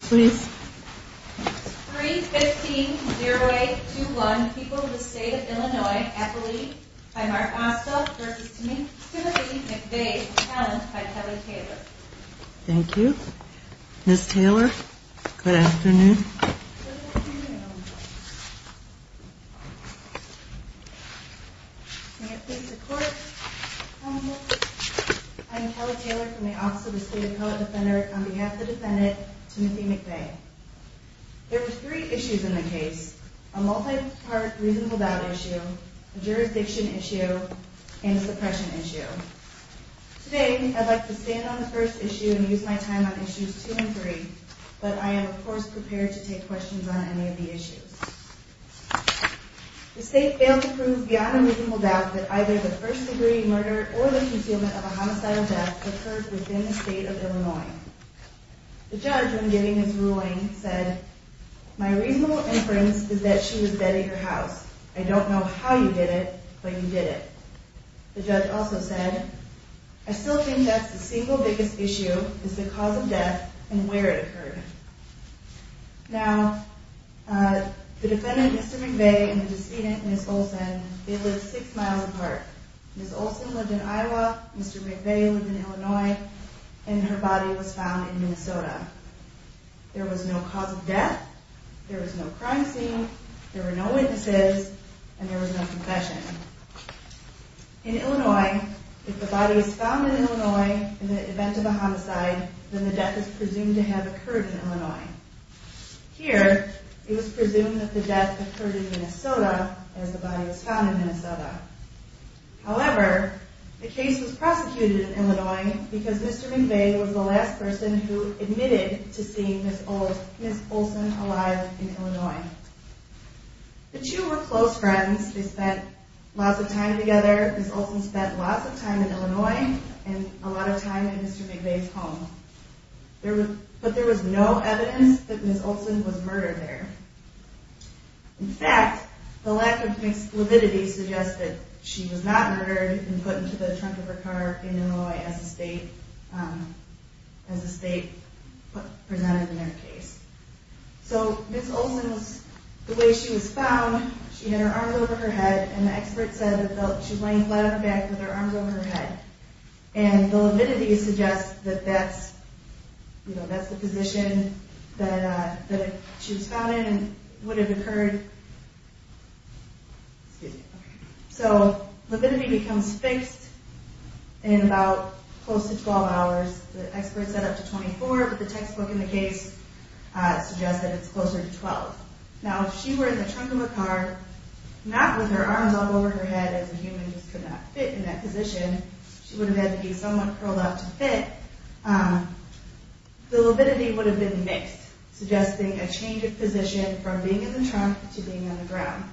315-0821, People of the State of Illinois, athlete, by Mark Osta v. Timothy McVay, talent, by Kelly Taylor Thank you. Ms. Taylor, good afternoon. Good afternoon. May it please the court. I'm Kelly Taylor from the Office of the State of Colorado Defender on behalf of the defendant, Timothy McVay. There were three issues in the case, a multi-part reasonable doubt issue, a jurisdiction issue, and a suppression issue. Today, I'd like to stand on the first issue and use my time on issues two and three, but I am of course prepared to take questions on any of the issues. The state failed to prove beyond a reasonable doubt that either the first degree murder or the concealment of a homicidal death occurred within the state of Illinois. The judge, when giving his ruling, said, My reasonable inference is that she was dead in your house. I don't know how you did it, but you did it. The judge also said, I still think that's the single biggest issue is the cause of death and where it occurred. Now, the defendant, Mr. McVay, and the decedent, Ms. Olson, they lived six miles apart. Ms. Olson lived in Iowa, Mr. McVay lived in Illinois, and her body was found in Minnesota. There was no cause of death, there was no crime scene, there were no witnesses, and there was no confession. In Illinois, if the body was found in Illinois in the event of a homicide, then the death is presumed to have occurred in Illinois. Here, it was presumed that the death occurred in Minnesota, as the body was found in Minnesota. However, the case was prosecuted in Illinois because Mr. McVay was the last person who admitted to seeing Ms. Olson alive in Illinois. The two were close friends. They spent lots of time together. Ms. Olson spent lots of time in Illinois and a lot of time in Mr. McVay's home. But there was no evidence that Ms. Olson was murdered there. In fact, the lack of convicts' lividity suggests that she was not murdered and put into the trunk of her car in Illinois as the state presented in their case. So Ms. Olson, the way she was found, she had her arms over her head, and the expert said that she was lying flat on her back with her arms over her head. And the lividity suggests that that's the position that she was found in and would have occurred. So, lividity becomes fixed in about close to 12 hours. The expert said up to 24, but the textbook in the case suggests that it's closer to 12. Now, if she were in the trunk of a car, not with her arms all over her head as a human just could not fit in that position. She would have had to be somewhat curled up to fit. The lividity would have been mixed, suggesting a change of position from being in the trunk to being on the ground.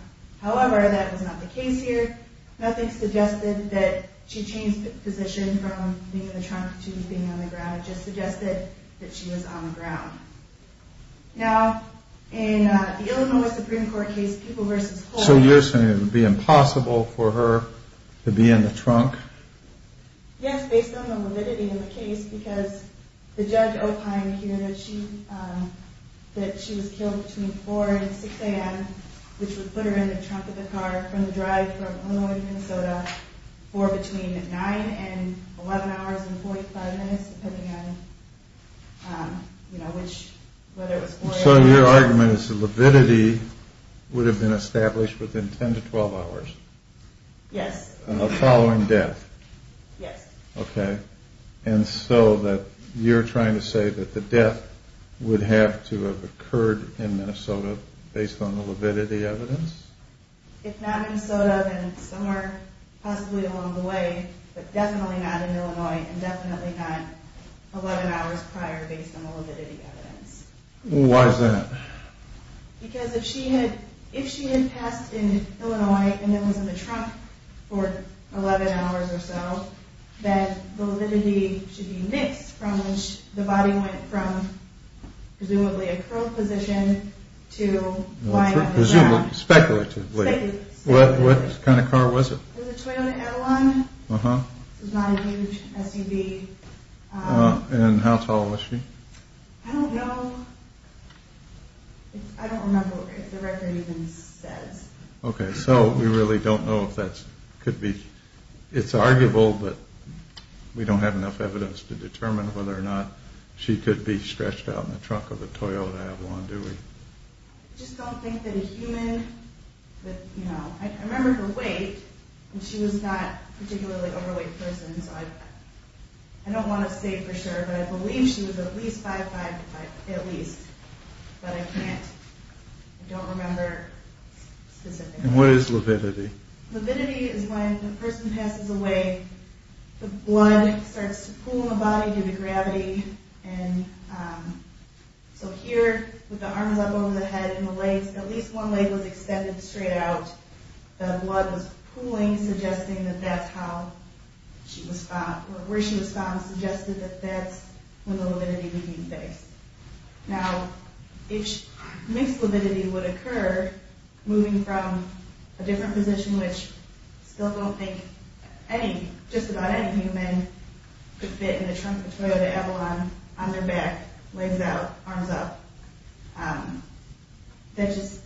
However, that was not the case here. Nothing suggested that she changed position from being in the trunk to being on the ground. It just suggested that she was on the ground. Now, in the Illinois Supreme Court case, People v. Holden... So you're saying it would be impossible for her to be in the trunk? Yes, based on the lividity in the case. Because the judge opined here that she was killed between 4 and 6 a.m., which would put her in the trunk of the car from the drive from Illinois to Minnesota for between 9 and 11 hours and 45 minutes, depending on, you know, which... So your argument is the lividity would have been established within 10 to 12 hours? Yes. Of the following death? Yes. Okay. And so you're trying to say that the death would have to have occurred in Minnesota based on the lividity evidence? If not in Minnesota, then somewhere possibly along the way, but definitely not in Illinois and definitely not 11 hours prior based on the lividity evidence. Why is that? Because if she had passed in Illinois and then was in the trunk for 11 hours or so, then the lividity should be mixed from which the body went from presumably a curled position to lying on the ground. Presumably. Speculatively. Speculatively. What kind of car was it? It was a Toyota L1. Uh-huh. It was not a huge SUV. And how tall was she? I don't know. I don't remember if the record even says. Okay, so we really don't know if that could be... It's arguable, but we don't have enough evidence to determine whether or not she could be stretched out in the trunk of a Toyota L1, do we? I just don't think that a human would, you know... I remember her weight, and she was not a particularly overweight person, so I don't want to say for sure, but I believe she was at least 5'5", at least. But I can't... I don't remember specifically. And what is lividity? Lividity is when the person passes away, the blood starts to pool in the body due to gravity, and so here, with the arms up over the head and the legs, at least one leg was extended straight out. The blood was pooling, suggesting that that's how she was found, or where she was found suggested that that's when the lividity would be based. Now, if mixed lividity would occur, moving from a different position, which I still don't think any, just about any human, could fit in the trunk of a Toyota Evalon on their back, legs out, arms up, that just...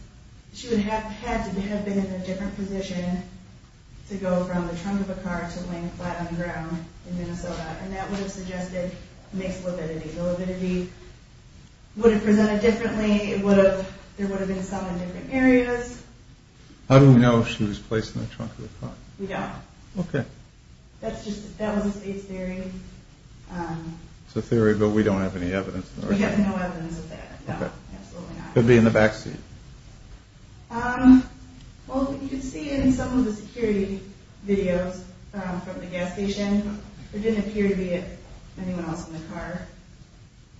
she would have had to have been in a different position to go from the trunk of a car to laying flat on the ground in Minnesota, and that would have suggested mixed lividity. The lividity would have presented differently, it would have... there would have been some in different areas. How do we know if she was placed in the trunk of a car? We don't. Okay. That's just... that was a state theory. It's a theory, but we don't have any evidence. We have no evidence of that, no, absolutely not. Could be in the back seat. Well, you can see in some of the security videos from the gas station, there didn't appear to be anyone else in the car.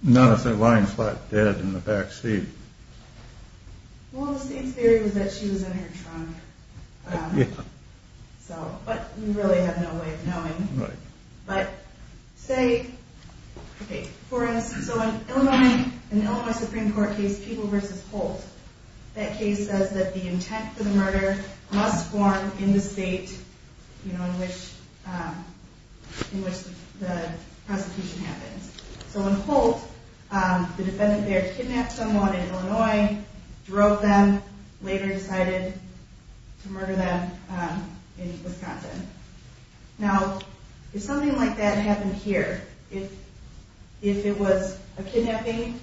Not if they're lying flat dead in the back seat. Well, the state's theory was that she was in her trunk. So, but we really have no way of knowing. Right. But, say... Okay, for us, so in an Illinois Supreme Court case, People v. Holt, that case says that the intent for the murder must form in the state in which the prosecution happens. So in Holt, the defendant there kidnapped someone in Illinois, drove them, later decided to murder them in Wisconsin. Now, if something like that happened here, if it was a kidnapping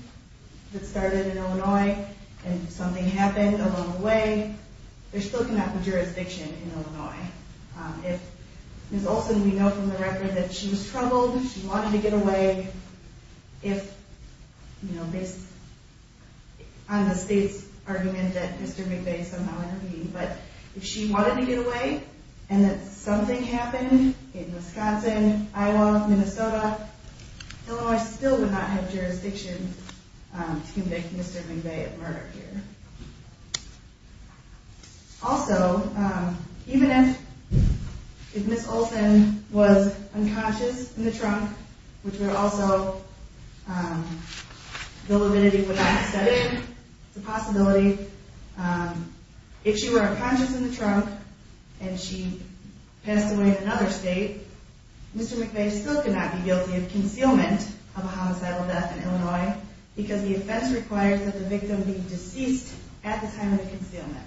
that started in Illinois, and something happened along the way, they're still coming out with jurisdiction in Illinois. If Ms. Olsen, we know from the record that she was troubled, she wanted to get away, if, you know, based on the state's argument that Mr. McVeigh somehow interviewed, but if she wanted to get away, and that something happened in Wisconsin, Iowa, Minnesota, Illinois still would not have jurisdiction to convict Mr. McVeigh of murder here. Also, even if Ms. Olsen was unconscious in the trunk, which would also, the lividity would not have set in, it's a possibility, if she were unconscious in the trunk, and she passed away in another state, Mr. McVeigh still could not be guilty of concealment of a homicidal death in Illinois, because the offense required that the victim be deceased at the time of the concealment.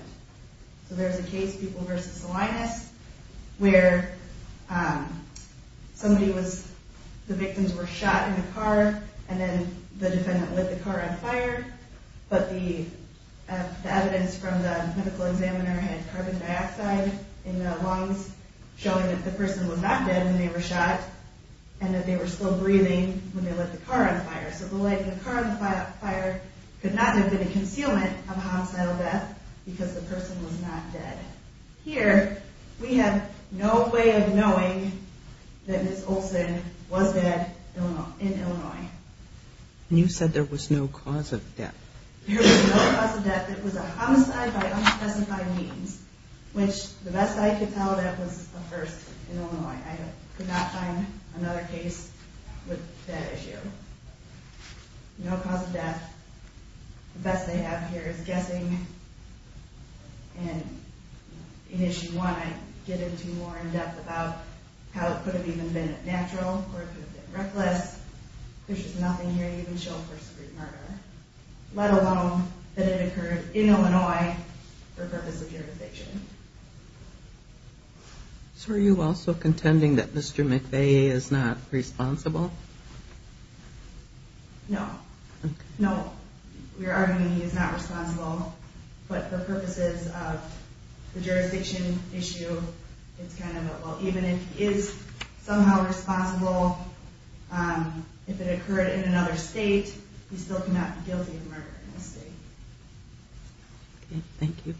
So there's a case, Pupil v. Salinas, where somebody was, the victims were shot in the car, and then the defendant lit the car on fire, but the evidence from the medical examiner had carbon dioxide in the lungs, showing that the person was not dead when they were shot, and that they were still breathing when they lit the car on fire. So the lighting of the car on fire could not have been a concealment of a homicidal death, because the person was not dead. Here, we have no way of knowing that Ms. Olsen was dead in Illinois. And you said there was no cause of death. There was no cause of death. It was a homicide by unspecified means, which, the best I could tell, that was a first in Illinois. I could not find another case with that issue. No cause of death. The best they have here is guessing, and in Issue 1, I get into more in depth about how it could have even been natural, or it could have been reckless. There's just nothing here to even show a first degree murder, let alone that it occurred in Illinois for purpose of jurisdiction. So are you also contending that Mr. McVeigh is not responsible? No. No, we are arguing he is not responsible, but for purposes of the jurisdiction issue, even if he is somehow responsible, if it occurred in another state, he still cannot be guilty of murder in this state. Okay, thank you.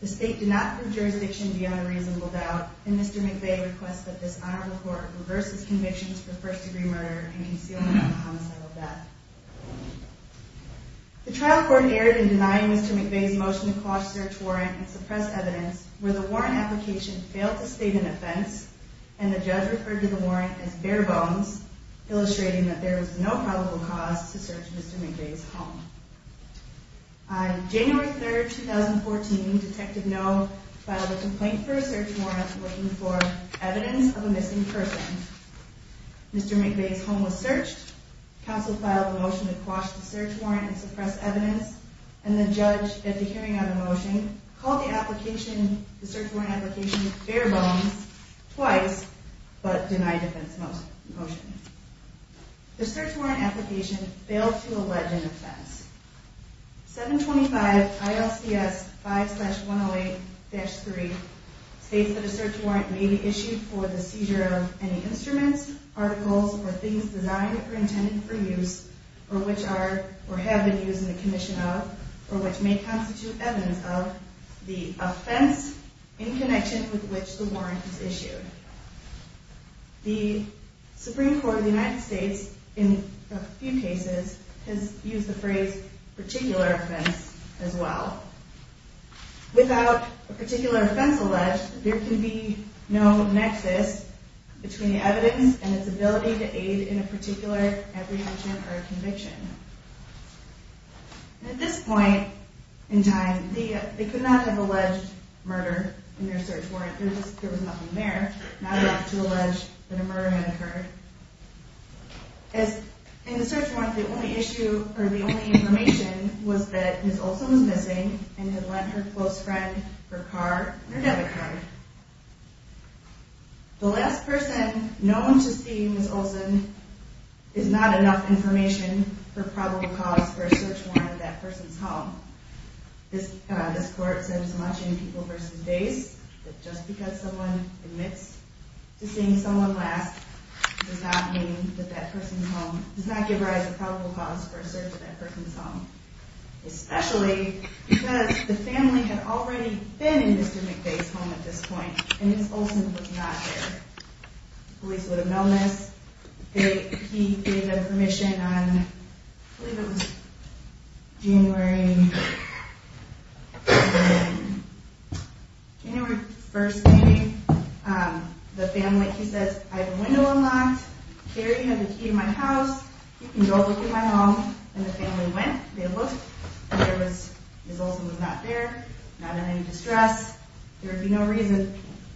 The state did not prove jurisdiction beyond a reasonable doubt, and Mr. McVeigh requests that this Honorable Court reverse his convictions for first degree murder and concealment of a homicidal death. The trial court erred in denying Mr. McVeigh's motion to quash search warrant and suppress evidence, where the warrant application failed to state an offense, and the judge referred to the warrant as bare bones, illustrating that there was no probable cause to search Mr. McVeigh's home. On January 3, 2014, Detective Noh filed a complaint for a search warrant looking for evidence of a missing person. Mr. McVeigh's home was searched, counsel filed a motion to quash the search warrant and suppress evidence, and the judge, at the hearing of the motion, called the search warrant application bare bones twice, but denied defense motion. The search warrant application failed to allege an offense. 725 ILCS 5-108-3 states that a search warrant may be issued for the seizure of any instruments, articles, or things designed or intended for use, or which are or have been used in the commission of, or which may constitute evidence of the offense in connection with which the warrant is issued. The Supreme Court of the United States, in a few cases, has used the phrase particular offense as well. Without a particular offense alleged, there can be no nexus between the evidence and its ability to aid in a particular apprehension or conviction. At this point in time, they could not have alleged murder in their search warrant. There was nothing there. Not enough to allege that a murder had occurred. In the search warrant, the only issue, or the only information, was that Ms. Olson was missing and had lent her close friend her car and her debit card. The last person known to see Ms. Olson is not enough information for probable cause for a search warrant at that person's home. This court said so much in People v. Days that just because someone admits to seeing someone last does not mean that that person's home does not give rise to probable cause for a search at that person's home. Especially because the family had already been in Mr. McDay's home at this point. And Ms. Olson was not there. Police would have known this. He gave them permission on, I believe it was January 1st. The family, he says, I have a window unlocked. Here you have the key to my house. You can go look at my home. And the family went. They looked. Ms. Olson was not there. Not in any distress. There would be no reason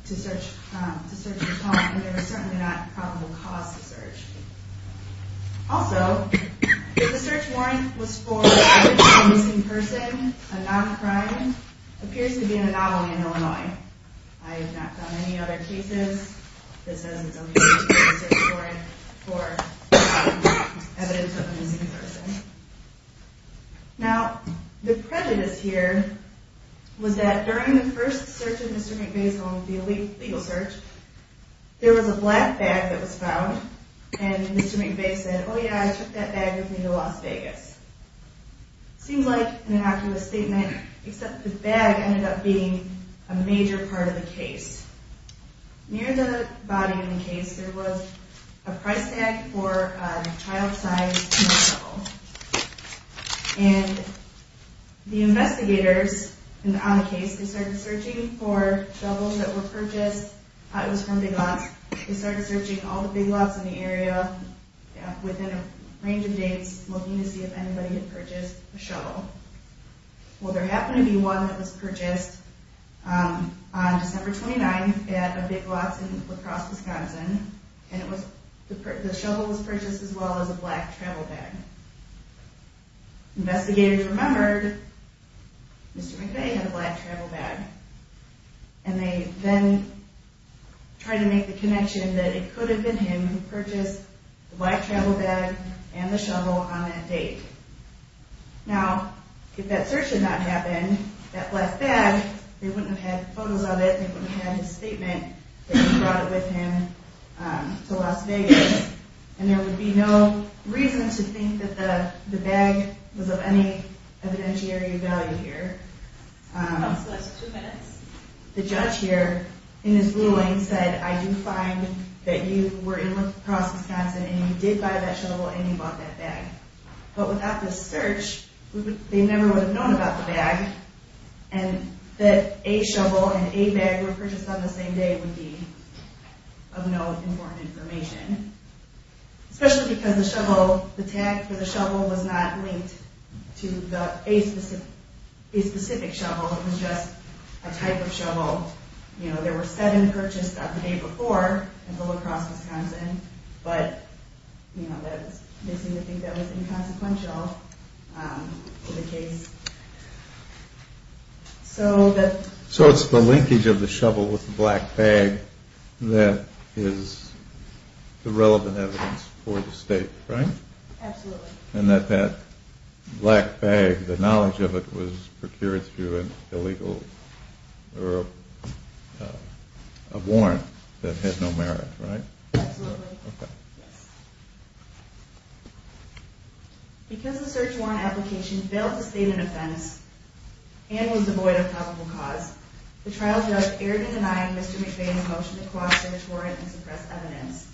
to search his home. And there was certainly not probable cause to search. Also, if the search warrant was for a missing person, a non-crime, appears to be an anomaly in Illinois. I have not found any other cases that says it's okay to use a search warrant for evidence of a missing person. Now, the prejudice here was that during the first search of Mr. McDay's home, the legal search, there was a black bag that was found. And Mr. McDay said, oh yeah, I took that bag with me to Las Vegas. Seems like an innocuous statement, except the bag ended up being a major part of the case. Near the body in the case, there was a price tag for a child-sized shovel. And the investigators on the case, they started searching for shovels that were purchased. It was from Big Lots. They started searching all the Big Lots in the area within a range of dates, looking to see if anybody had purchased a shovel. Well, there happened to be one that was purchased on December 29th at a Big Lots in La Crosse, Wisconsin. And the shovel was purchased as well as a black travel bag. Investigators remembered Mr. McDay had a black travel bag. And they then tried to make the connection that it could have been him who purchased the black travel bag and the shovel on that date. Now, if that search had not happened, that last bag, they wouldn't have had photos of it, they wouldn't have had his statement, that he brought it with him to Las Vegas. And there would be no reason to think that the bag was of any evidentiary value here. The judge here, in his ruling, said, I do find that you were in La Crosse, Wisconsin, and you did buy that shovel, and you bought that bag. But without this search, they never would have known about the bag, and that a shovel and a bag were purchased on the same day would be of no important information. Especially because the tag for the shovel was not linked to a specific shovel, it was just a type of shovel. There were seven purchased on the day before in La Crosse, Wisconsin, but they seem to think that was inconsequential to the case. So it's the linkage of the shovel with the black bag that is the relevant evidence for the state, right? Absolutely. And that that black bag, the knowledge of it, was procured through an illegal or a warrant that had no merit, right? Absolutely. Because the search warrant application failed to state an offense and was devoid of probable cause, the trial judge erred in denying Mr. McVeigh the motion to co-opt the search warrant and suppress evidence.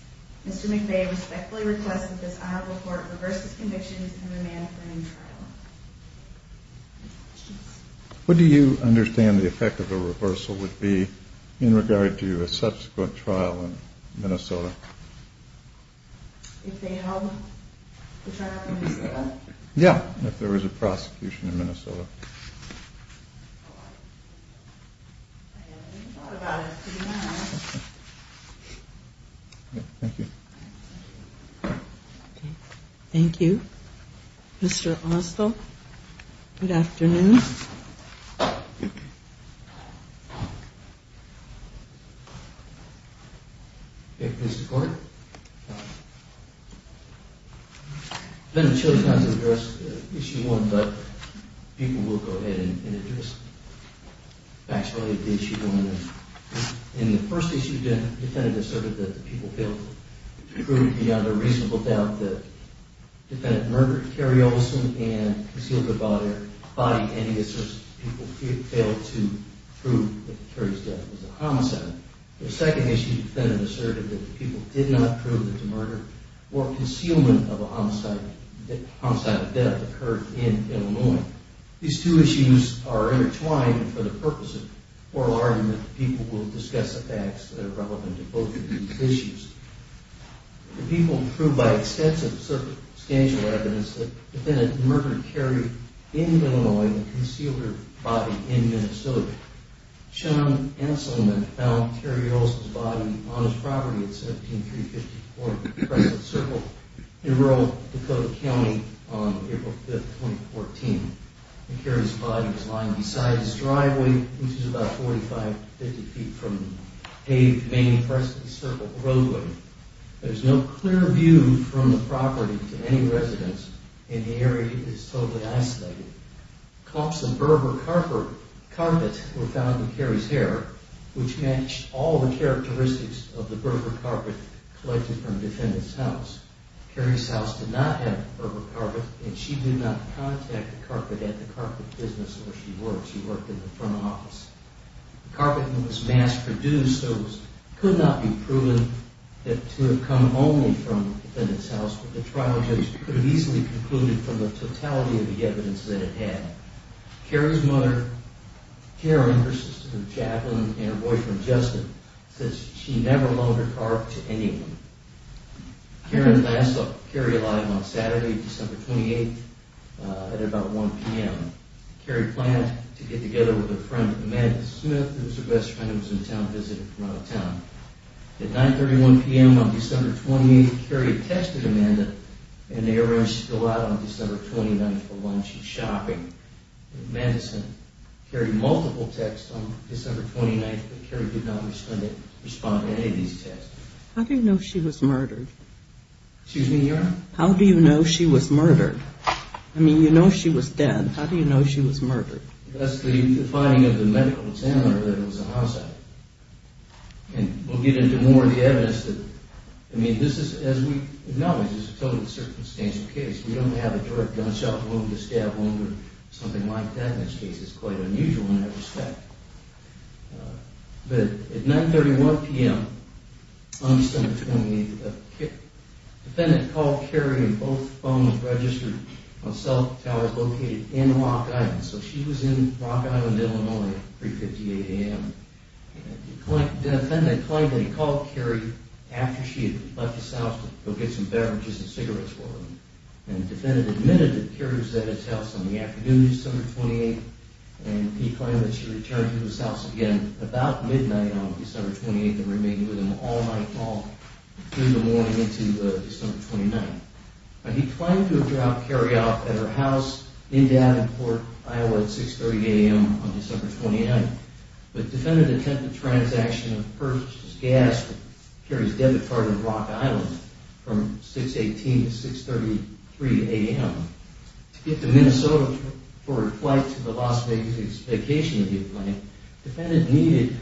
Mr. McVeigh respectfully requests that this honorable court reverse its convictions and remand the new trial. What do you understand the effect of a reversal would be in regard to a subsequent trial in Minnesota? If they held the trial in Minnesota? Yeah, if there was a prosecution in Minnesota. Thank you. Thank you. Mr. Austell, good afternoon. Mr. Court? Mr. Court? Defendant Chili has addressed Issue 1, but people will go ahead and address facts related to Issue 1. In the first issue, the defendant asserted that the people failed to prove beyond a reasonable doubt that the defendant murdered Carrie Olsen and concealed her body, and he asserts the people failed to prove that Carrie's death was a homicide. The second issue, the defendant asserted that the people did not prove that the murder or concealment of a homicide occurred in Illinois. These two issues are intertwined, and for the purpose of oral argument, the people will discuss the facts that are relevant to both of these issues. The people proved by extensive circumstantial evidence that the defendant murdered Carrie in Illinois and concealed her body in Minnesota. Sean Anselman found Carrie Olsen's body on his property at 17354 Preston Circle in rural Dakota County on April 5, 2014. Carrie's body was lying beside his driveway, which is about 45, 50 feet from the paved main Preston Circle roadway. There's no clear view from the property to any residents, and the area is totally isolated. Cuffs and burb or carpet were found in Carrie's hair, which matched all the characteristics of the burb or carpet collected from the defendant's house. Carrie's house did not have burb or carpet, and she did not contact the carpet at the carpet business where she worked. She worked in the front office. The carpet that was mass-produced could not be proven to have come only from the defendant's house, but the trial judge could have easily concluded from the totality of the evidence that it had. Carrie's mother, Karen, her sister Jacqueline, and her boyfriend, Justin, said she never loaned her car to anyone. Karen last saw Carrie alive on Saturday, December 28, at about 1 p.m. Carrie planned to get together with her friend Amanda Smith, who was her best friend and was in town visiting from out of town. At 9.31 p.m. on December 28, Carrie texted Amanda, and they arranged to go out on December 29 for lunch and shopping. Amanda sent Carrie multiple texts on December 29, but Carrie did not respond to any of these texts. How do you know she was murdered? Excuse me, Your Honor? How do you know she was murdered? I mean, you know she was dead. How do you know she was murdered? That's the finding of the medical examiner that it was a homicide. And we'll get into more of the evidence that... I mean, this is, as we acknowledge, this is a totally circumstantial case. We don't have a direct gunshot wound, a stab wound, or something like that in this case. It's quite unusual in that respect. But at 9.31 p.m., the defendant called Carrie, and both phones registered on cell towers located in Rock Island. So she was in Rock Island, Illinois, at 3.58 a.m. The defendant claimed that he called Carrie after she had left his house to go get some beverages and cigarettes for him. And the defendant admitted that Carrie was at his house on the afternoon of December 28th, and he claimed that she returned to his house again about midnight on December 28th and remained with him all night long through the morning into December 29th. Now, he claimed to have dropped Carrie off at her house in Davenport, Iowa, at 6.30 a.m. on December 29th. But the defendant attempted a transaction of purchased gas at Carrie's debit card in Rock Island from 6.18 to 6.33 a.m. to get to Minnesota for a flight to the Las Vegas vacation that he had planned. The defendant needed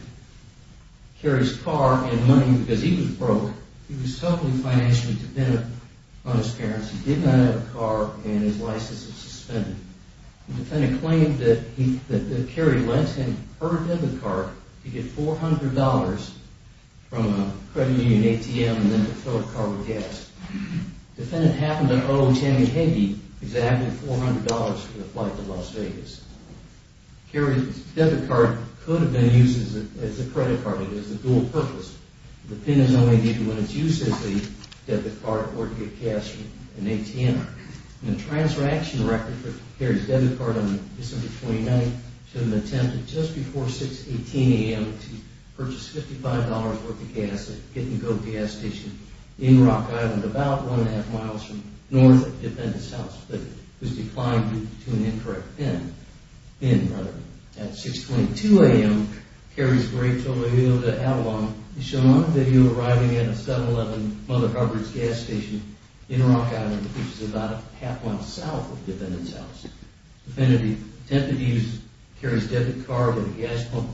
Carrie's car and money because he was broke. He was helply financially dependent on his parents. He did not have a car, and his license was suspended. The defendant claimed that Carrie lent him her debit card to get $400 from a credit union ATM and then to fill her car with gas. The defendant happened to owe Tammy Heggie exactly $400 for the flight to Las Vegas. Carrie's debit card could have been used as a credit card. It is a dual purpose. The pin is only needed when it's used as the debit card or to get gas from an ATM. And the transaction record for Carrie's debit card on December 29th The defendant attempted just before 6.18 a.m. to purchase $55 worth of gas at Gettin' G.O.A.T. gas station in Rock Island, about one and a half miles from north of the defendant's house, but it was declined due to an incorrect pin. Pin, rather. At 6.22 a.m., Carrie's great total video to Avalon is shown on a video arriving at a 7-Eleven Mother Hubbard's gas station in Rock Island, which is about a half mile south of the defendant's house. The defendant attempted to use Carrie's debit card with a gas pump.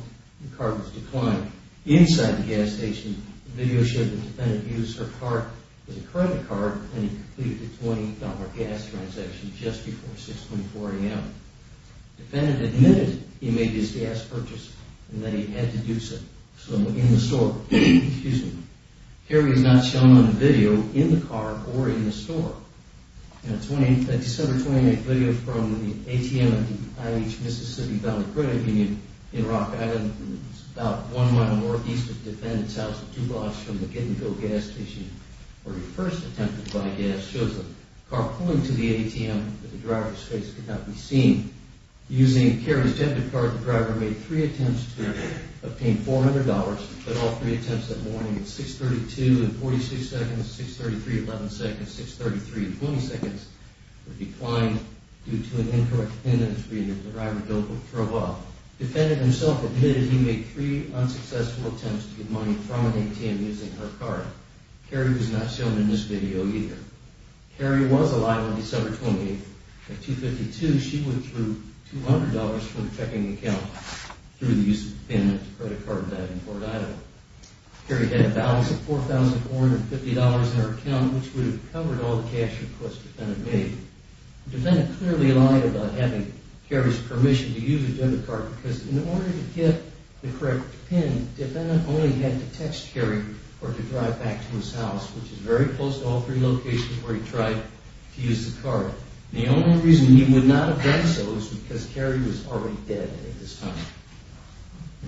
The card was declined. Inside the gas station, the video showed the defendant used her card as a credit card when he completed the $20 gas transaction just before 6.40 a.m. The defendant admitted he made this gas purchase and that he had to do so in the store. Carrie is not shown on the video in the car or in the store. A December 28 video from the ATM at the IH Mississippi Valley Credit Union in Rock Island, about one mile northeast of the defendant's house, two blocks from the Gettin' G.O.A.T. gas station, where he first attempted to buy gas, shows a car pulling to the ATM, but the driver's face could not be seen. Using Carrie's debit card, the driver made three attempts to obtain $400, but all three attempts that morning at 6.32 and 46 seconds, 6.33 and 11 seconds, 6.33 and 20 seconds, were declined due to an incorrect attendance reading that the driver drove off. The defendant himself admitted he made three unsuccessful attempts to get money from an ATM using her card. Carrie was not shown in this video either. Carrie was alive on December 28. At 2.52, she withdrew $200 from her checking account through the use of the pin at the credit card debt in Fort Idaho. Carrie had a balance of $4,450 in her account, which would have covered all the cash requests the defendant made. The defendant clearly lied about having Carrie's permission to use a debit card, because in order to get the correct pin, the defendant only had to text Carrie or to drive back to his house, which is very close to all three locations where he tried to use the card. The only reason he would not have done so is because Carrie was already dead at this time.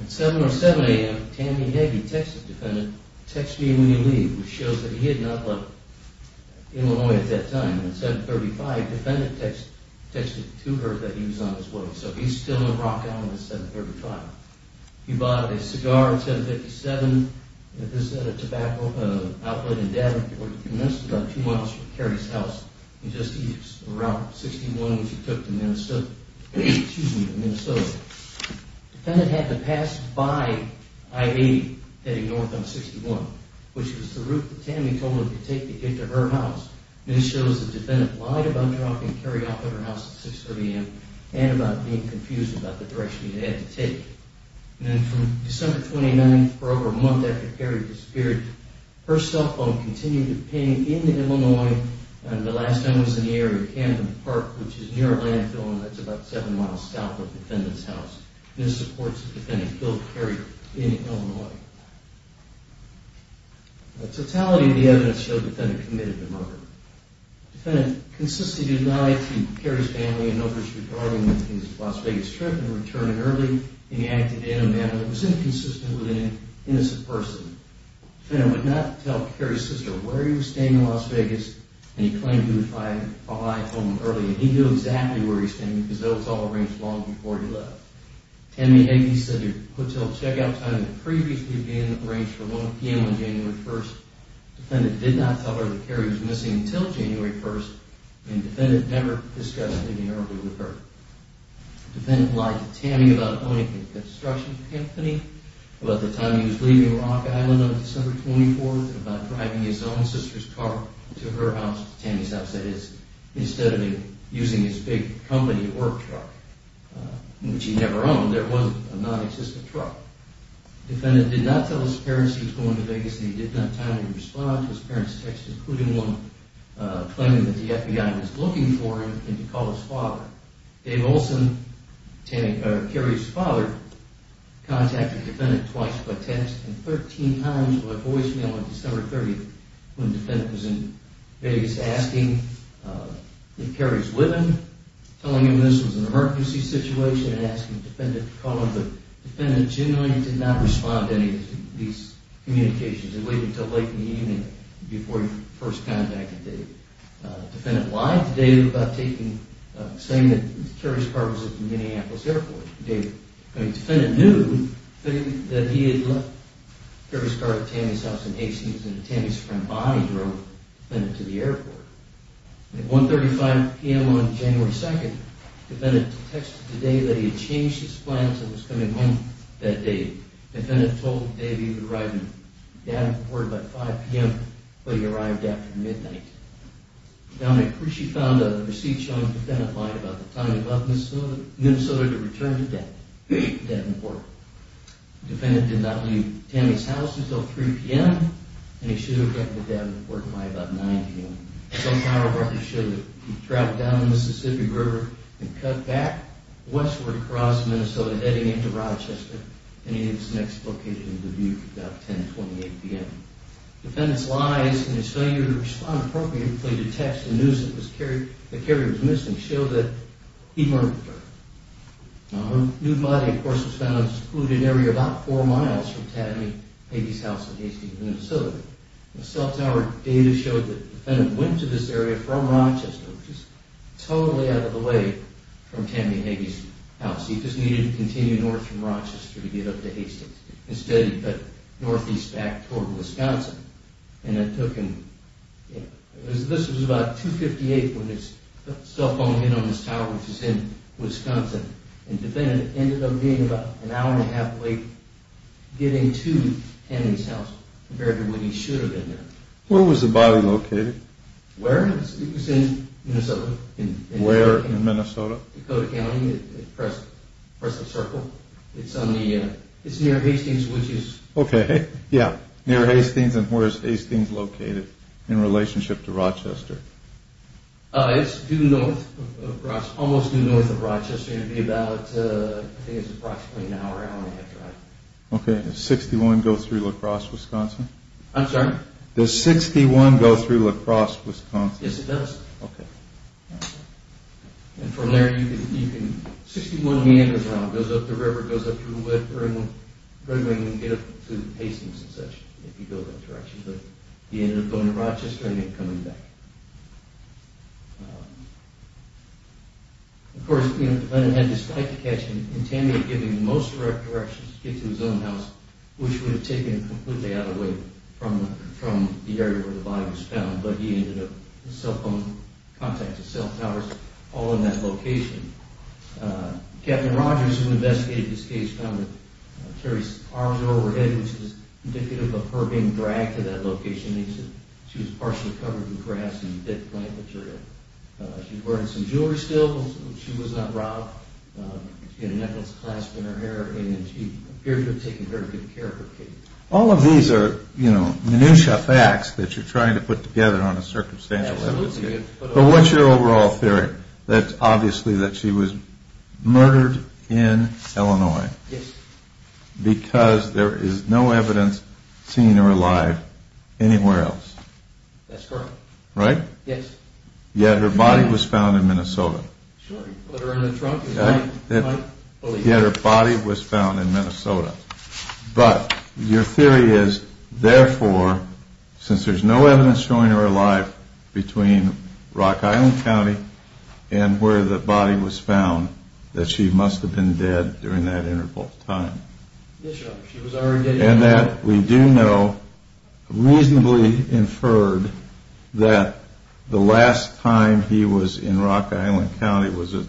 At 7 or 7 a.m., Tammy Hagey texted the defendant, text me when you leave, which shows that he had not left Illinois at that time. At 7.35, the defendant texted to her that he was on his way, so he's still in Rock Island at 7.35. He bought a cigar at 7.57, at this outlet in Davenport. He commenced about two miles from Carrie's house, and just east of Route 61, which he took to Minnesota. The defendant had to pass by I-80 heading north on 61, which was the route that Tammy told him to take to get to her house. This shows the defendant lied about dropping Carrie off at her house at 6.30 a.m. and about being confused about the direction he had to take. Then from December 29th, for over a month after Carrie disappeared, her cell phone continued to ping in Illinois, and the last time it was in the area of Camden Park, which is near a landfill, and that's about 7 miles south of the defendant's house. This supports the defendant's guilt of carrying her in Illinois. The totality of the evidence showed the defendant committed the murder. The defendant consisted in lying to Carrie's family in numbers regarding his Las Vegas trip and returning early, and he acted in a manner that was inconsistent with an innocent person. The defendant would not tell Carrie's sister where he was staying in Las Vegas, and he claimed he would find a lie told him early, and he knew exactly where he was staying because it was all arranged long before he left. Tammy had said her hotel checkout time had previously been arranged for 1 p.m. on January 1st. The defendant did not tell her that Carrie was missing until January 1st, and the defendant never discussed leaving early with her. The defendant lied to Tammy about owning a construction company, about the time he was leaving Rock Island on December 24th, and about driving his own sister's car to her house to Tammy's house, that is, instead of using his big company work truck, which he never owned. There wasn't a non-existent truck. The defendant did not tell his parents he was going to Vegas, and he did not timely respond to his parents' texts, including one claiming that the FBI was looking for him, and he called his father. Dave Olson, Carrie's father, contacted the defendant twice, but text and 13 times with a voicemail on December 30th, when the defendant was in Vegas asking if Carrie was living, telling him this was an emergency situation and asking the defendant to call him, but the defendant genuinely did not respond to any of these communications and waited until late in the evening before he first contacted Dave. The defendant lied to Dave about saying that Carrie's car was at the Minneapolis airport. The defendant knew that he had left Carrie's car at Tammy's house in Hastings, and that Tammy's friend Bonnie drove the defendant to the airport. At 1.35 p.m. on January 2nd, the defendant texted Dave that he had changed his plan until he was coming home that day. The defendant told Dave that he would arrive at the airport by 5 p.m., but he arrived after midnight. Now, McCrishy found a receipt showing the defendant lied about the time he left Minnesota to return to Davenport. The defendant did not leave Tammy's house until 3 p.m., and he should have gotten to Davenport by about 9 p.m. Some power brokers showed that he traveled down the Mississippi River and cut back westward across Minnesota, heading into Rochester, and he was next located in Dubuque at about 10.28 p.m. The defendant's lies and his failure to respond appropriately to texts and news that Carrie was missing showed that he murdered her. Now, her nude body, of course, was found in a secluded area about four miles from Tammy Hagey's house in Hastings, Minnesota. The cell tower data showed that the defendant went to this area from Rochester, which is totally out of the way from Tammy Hagey's house. He just needed to continue north from Rochester to get up to Hastings. Instead, he cut northeast back toward Wisconsin, and that took him... This was about 2.58 when his cell phone hit on this tower, which is in Wisconsin, and the defendant ended up being about an hour and a half late getting to Tammy's house compared to when he should have been there. Where was the body located? Where? It was in Minnesota. Where in Minnesota? Dakota County, Prescott Circle. It's near Hastings, which is... Okay, yeah, near Hastings. And where is Hastings located in relationship to Rochester? It's due north, almost due north of Rochester. It would be about, I think it's approximately an hour and a half drive. Okay, does 61 go through La Crosse, Wisconsin? I'm sorry? Does 61 go through La Crosse, Wisconsin? Yes, it does. Okay. And from there, you can... 61 meanders around, goes up the river, goes up through Red Wing, and get up to Hastings and such, if you go that direction. But he ended up going to Rochester and then coming back. Of course, the defendant had this fight to catch, and Tammy had given him most of the directions to get to his own house, which would have taken him completely out of the way from the area where the body was found, but he ended up, his cell phone contacted cell towers all in that location. Captain Rogers, who investigated this case, found that Terry's arms were overhead, which was indicative of her being dragged to that location. He said she was partially covered in grass and dead plant material. She was wearing some jewelry still. She was not robbed. She had a necklace clasped in her hair, and she appeared to have taken very good care of her kid. All of these are, you know, minutiae facts that you're trying to put together on a circumstantial level. Absolutely. But what's your overall theory? That's obviously that she was murdered in Illinois. Yes. Because there is no evidence seeing her alive anywhere else. That's correct. Right? Yes. Yet her body was found in Minnesota. Sure. Put her in a trunk. Yet her body was found in Minnesota. But your theory is, therefore, since there's no evidence showing her alive between Rock Island County and where the body was found, that she must have been dead during that interval of time. Yes, sir. And that we do know reasonably inferred that the last time he was in Rock Island County was a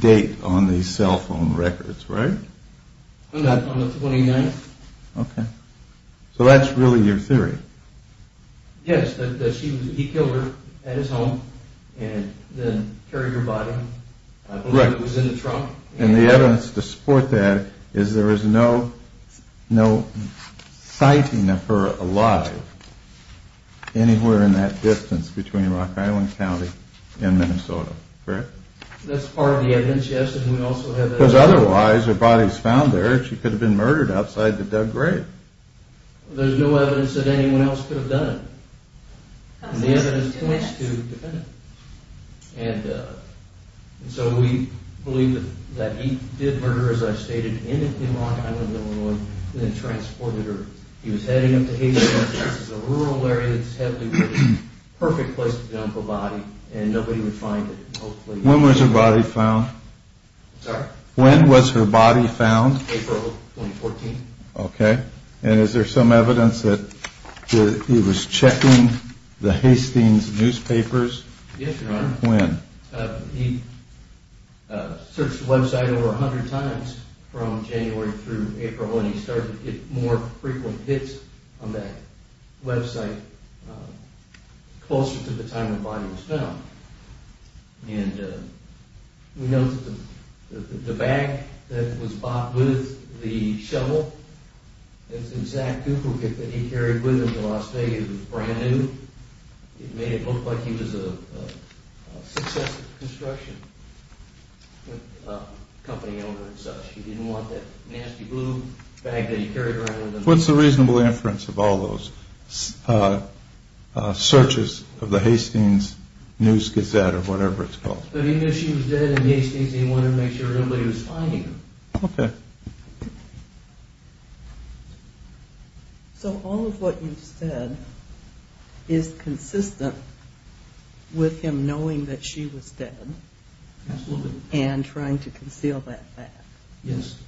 date on the cell phone records, right? On the 29th. Okay. So that's really your theory. Yes, that he killed her at his home and then carried her body. Right. It was in a trunk. And the evidence to support that is there is no sighting of her alive anywhere in that distance between Rock Island County and Minnesota. Correct? That's part of the evidence, yes. Because otherwise, her body is found there. She could have been murdered outside the dug grave. There's no evidence that anyone else could have done it. And the evidence points to the defendant. And so we believe that he did murder her, as I stated, in Rock Island, Illinois, and then transported her. He was heading up to Haiti. This is a rural area that's heavily wooded. Perfect place for the uncle body. And nobody would find it. When was her body found? Sorry? When was her body found? April 2014. Okay. And is there some evidence that he was checking the Hastings newspapers? Yes, Your Honor. When? He searched the website over 100 times from January through April, and he started to get more frequent hits on that website closer to the time the body was found. And we know that the bag that was bought with the shovel, the exact duplicate that he carried with him to Las Vegas was brand new. It made it look like he was a successful construction company owner and such. He didn't want that nasty blue bag that he carried around with him. What's the reasonable inference of all those searches of the Hastings News-Gazette or whatever it's called? He knew she was dead in Hastings and he wanted to make sure nobody was finding her. Okay. So all of what you've said is consistent with him knowing that she was dead and trying to conceal that fact. Yes.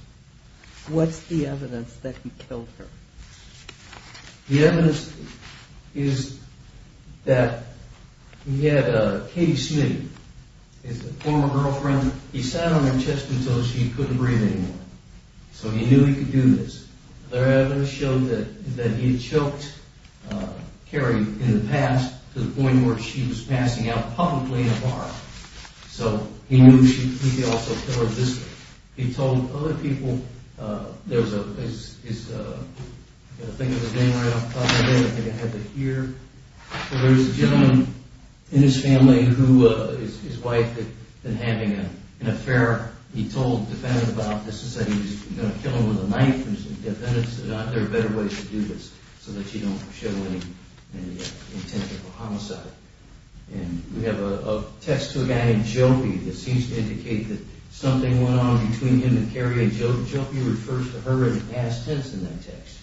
What's the evidence that he killed her? The evidence is that he had Katie Smith, his former girlfriend, he sat on her chest and told her she couldn't breathe anymore. So he knew he could do this. Other evidence showed that he had choked Carrie in the past to the point where she was passing out publicly in a bar. So he knew he could also kill her viscerally. He told other people, there's a gentleman in his family, his wife, that having an affair, he told a defendant about this and said he was going to kill her with a knife. And he said, defendants, there are better ways to do this so that you don't show any intention for homicide. And we have a text to a guy named Jopie that seems to indicate that something went on between him and Carrie. And Jopie refers to her in the past tense in that text.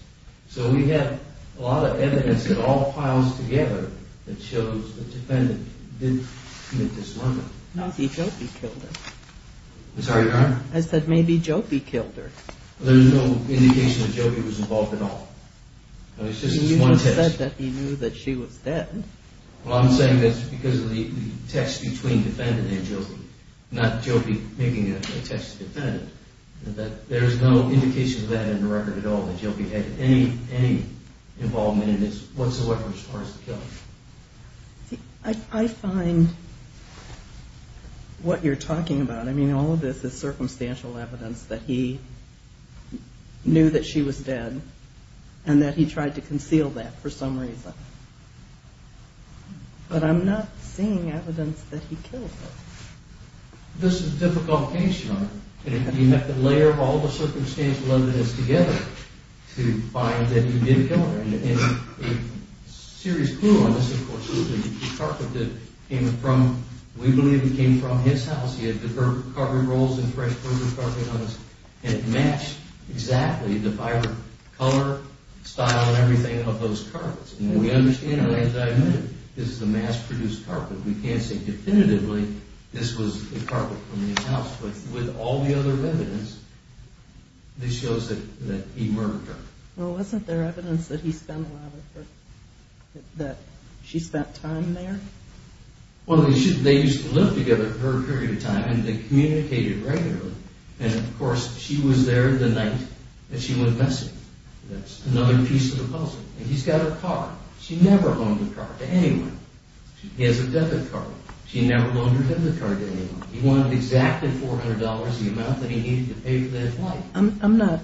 So we have a lot of evidence that all piles together that shows the defendant didn't commit this murder. Maybe Jopie killed her. I'm sorry, Your Honor? I said maybe Jopie killed her. There's no indication that Jopie was involved at all. You just said that he knew that she was dead. Well, I'm saying that's because of the text between defendant and Jopie. Not Jopie making a text to defendant. There's no indication of that in the record at all that Jopie had any involvement in this whatsoever as far as the killing. I find what you're talking about, I mean, all of this is circumstantial evidence that he knew that she was dead. And that he tried to conceal that for some reason. But I'm not seeing evidence that he killed her. This is a difficult case, Your Honor. You have to layer all the circumstantial evidence together to find that he did kill her. And a serious clue on this, of course, is the carpet that came from, we believe it came from his house. He had the carpet rolls and fresh furniture carpet on his house. And it matched exactly the vibrant color, style, and everything of those carpets. And we understand that this is a mass-produced carpet. We can't say definitively this was the carpet from his house. But with all the other evidence, this shows that he murdered her. Well, wasn't there evidence that he spent a lot of, that she spent time there? Well, they used to live together for a period of time, and they communicated regularly. And, of course, she was there the night that she went missing. That's another piece of the puzzle. And he's got her car. She never loaned her car to anyone. He has a debit card. She never loaned her debit card to anyone. He wanted exactly $400, the amount that he needed to pay for that flight. I'm not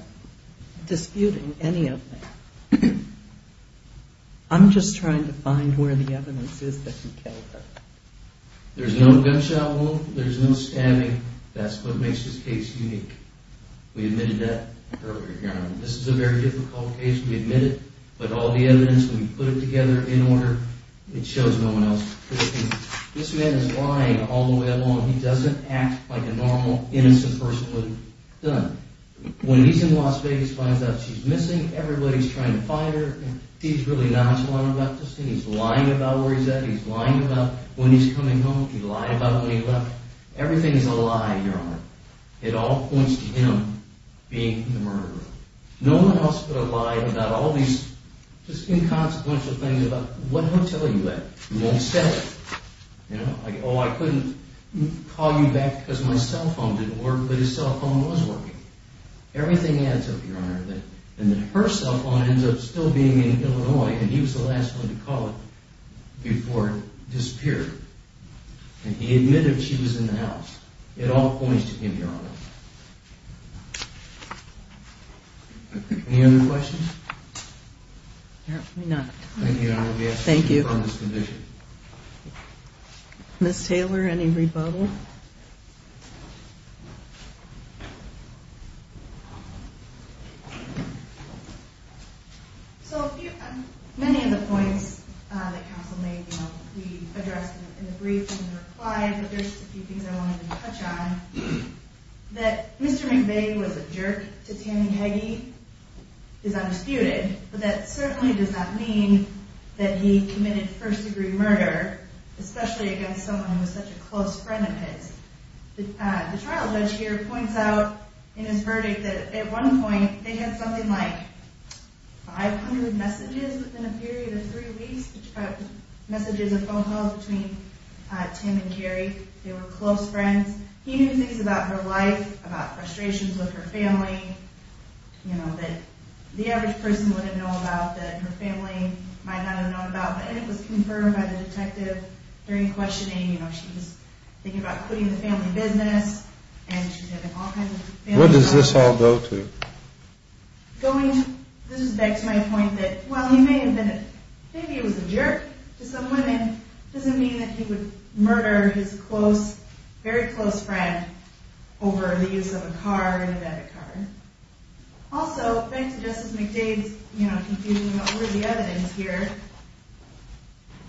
disputing any of that. I'm just trying to find where the evidence is that he killed her. There's no gunshot wound. There's no stabbing. That's what makes this case unique. We admitted that earlier. This is a very difficult case. We admit it. But all the evidence, when we put it together in order, it shows no one else. This man is lying all the way along. He doesn't act like a normal, innocent person would have done. When he's in Las Vegas, finds out she's missing, everybody's trying to find her, he's really nonchalant about this thing. He's lying about where he's at. He's lying about when he's coming home. He lied about when he left. Everything is a lie, Your Honor. It all points to him being the murderer. No one else would have lied about all these just inconsequential things about what hotel you were at. You won't say it. Like, oh, I couldn't call you back because my cell phone didn't work, but his cell phone was working. Everything adds up, Your Honor, and then her cell phone ends up still being in Illinois, and he was the last one to call it before it disappeared. And he admitted she was in the house. It all points to him, Your Honor. Any other questions? No, we're not. Thank you, Your Honor. Thank you. Ms. Taylor, any rebuttal? So many of the points that counsel made, you know, we addressed in the brief and in the reply, but there's just a few things I wanted to touch on. That Mr. McVeigh was a jerk to Tammy Heggie is undisputed, but that certainly does not mean that he committed first-degree murder, especially against someone who was such a close friend of his. The trial judge here points out in his verdict that at one point they had something like 500 messages within a period of three weeks, messages of phone calls between Tim and Carrie. They were close friends. He knew things about her life, about frustrations with her family, you know, that the average person wouldn't know about, that her family might not have known about. And it was confirmed by the detective during questioning. You know, she was thinking about quitting the family business, and she's having all kinds of family problems. Where does this all go to? Going to, this is back to my point that while he may have been a, maybe he was a jerk to some women, doesn't mean that he would murder his close, very close friend over the use of a car, an abandoned car. Also, thanks to Justice McDade's, you know, confusing what were the evidence here,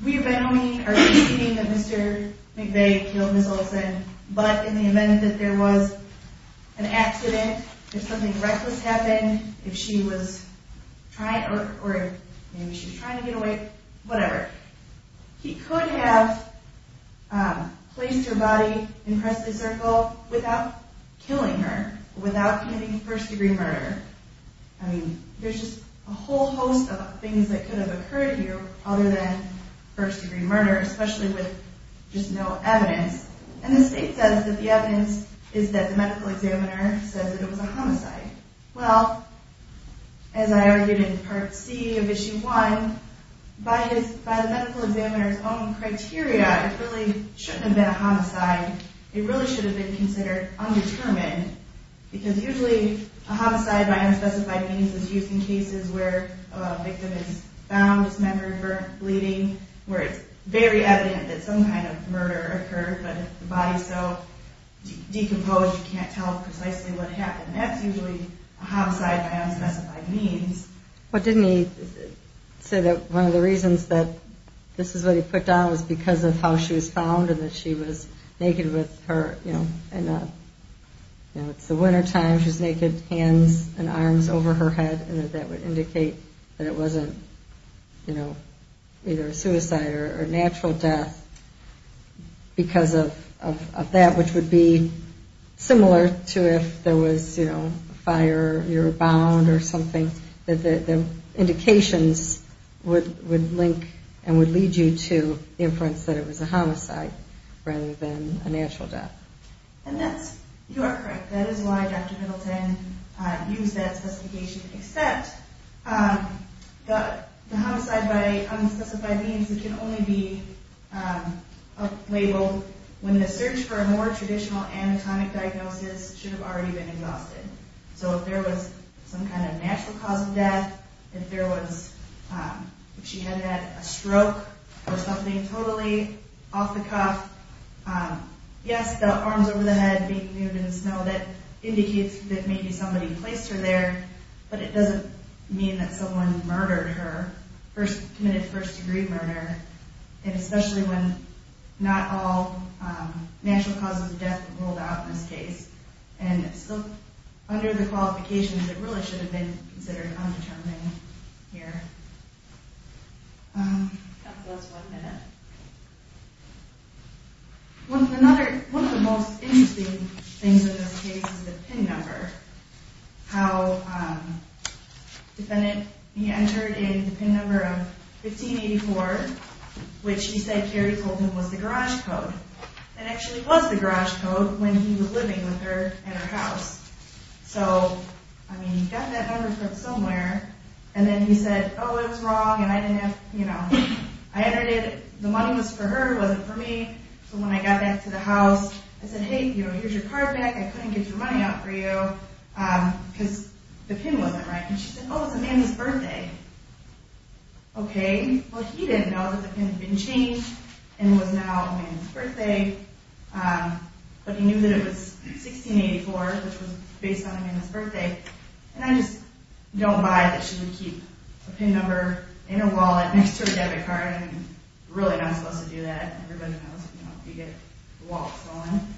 we have been only arguing that Mr. McVeigh killed Ms. Olsen, but in the event that there was an accident, if something reckless happened, if she was trying, or maybe she was trying to get away, whatever. He could have placed her body in Presley Circle without killing her, without committing first degree murder. I mean, there's just a whole host of things that could have occurred here other than first degree murder, especially with just no evidence. And the state says that the evidence is that the medical examiner says that it was a homicide. Well, as I argued in Part C of Issue 1, by the medical examiner's own criteria, it really shouldn't have been a homicide. It really should have been considered undetermined, because usually a homicide by unspecified means is used in cases where a victim is found dismembered, burnt, bleeding, where it's very evident that some kind of murder occurred, but the body's so decomposed, you can't tell precisely what happened. That's usually a homicide by unspecified means. Well, didn't he say that one of the reasons that this is what he put down was because of how she was found and that she was naked with her, you know, and it's the wintertime, she's naked, hands and arms over her head, and that that would indicate that it wasn't, you know, either a suicide or a natural death because of that, which would be similar to if there was, you know, a fire, or you were bound or something, that the indications would link and would lead you to inference that it was a homicide rather than a natural death. And that's, you are correct. That is why Dr. Middleton used that specification, except the homicide by unspecified means, it can only be labeled when the search for a more traditional anatomic diagnosis should have already been exhausted. So if there was some kind of natural cause of death, if there was, if she had had a stroke or something totally off the cuff, yes, the arms over the head, being nude in the snow, that indicates that maybe somebody placed her there, but it doesn't mean that someone murdered her, committed first-degree murder, and especially when not all natural causes of death rolled out in this case. And so, under the qualifications, it really should have been considered undetermined here. One of the most interesting things in this case is the PIN number, how the defendant, he entered in the PIN number of 1584, which he said Carrie told him was the garage code, and actually was the garage code when he was living with her at her house. So, I mean, he got that number from somewhere, and then he said, oh, it was wrong, and I didn't have, you know, I entered it, the money was for her, it wasn't for me, so when I got back to the house, I said, hey, here's your card back, I couldn't get your money out for you, because the PIN wasn't right. And she said, oh, it's Amanda's birthday. Okay, well, he didn't know that the PIN had been changed, and it was now Amanda's birthday, but he knew that it was 1684, which was based on Amanda's birthday, and I just don't buy that she would keep a PIN number in her wallet next to her debit card. You're really not supposed to do that. Everybody knows, you know, you get the wallet stolen.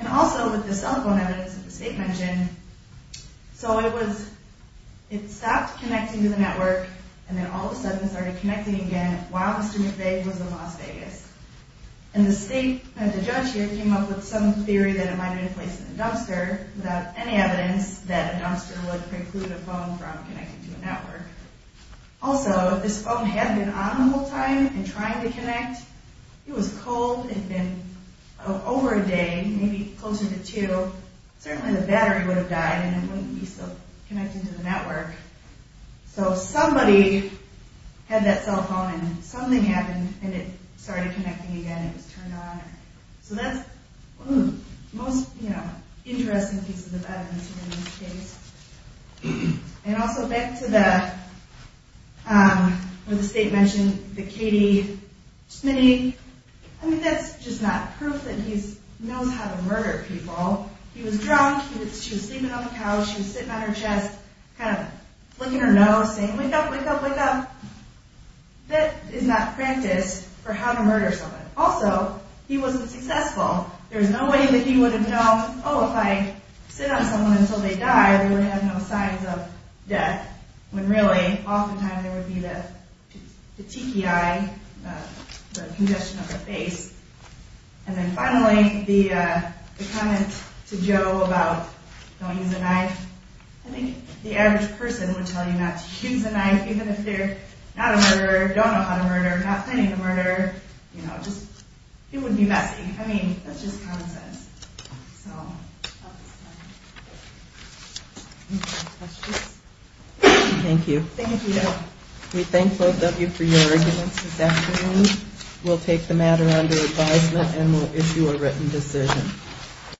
And also, with the cell phone evidence that the state mentioned, so it was, it stopped connecting to the network, and then all of a sudden it started connecting again while Mr. McVeigh was in Las Vegas. And the state, the judge here, came up with some theory that it might have been placed in a dumpster without any evidence that a dumpster would preclude a phone from connecting to a network. Also, if this phone had been on the whole time and trying to connect, it was cold, it had been over a day, maybe closer to two, certainly the battery would have died and it wouldn't be still connecting to the network. So somebody had that cell phone and something happened and it started connecting again, it was turned on. So that's the most interesting piece of the evidence in this case. And also back to the, what the state mentioned, the Katie Smitty, I mean, that's just not proof that he knows how to murder people. He was drunk, she was sleeping on the couch, she was sitting on her chest, kind of flicking her nose, saying, wake up, wake up, wake up. That is not practice for how to murder someone. Also, he wasn't successful. There's no way that he would have known, oh, if I sit on someone until they die, they would have no signs of death, when really, oftentimes there would be the tiki eye, the congestion of the face. And then finally, the comment to Joe about don't use a knife, I think the average person would tell you not to use a knife, even if they're not a murderer, don't know how to murder, not planning to murder, you know, just, it would be messy. I mean, that's just common sense. Thank you. We thank both of you for your arguments this afternoon. We'll take the matter under advisement and we'll issue a written decision.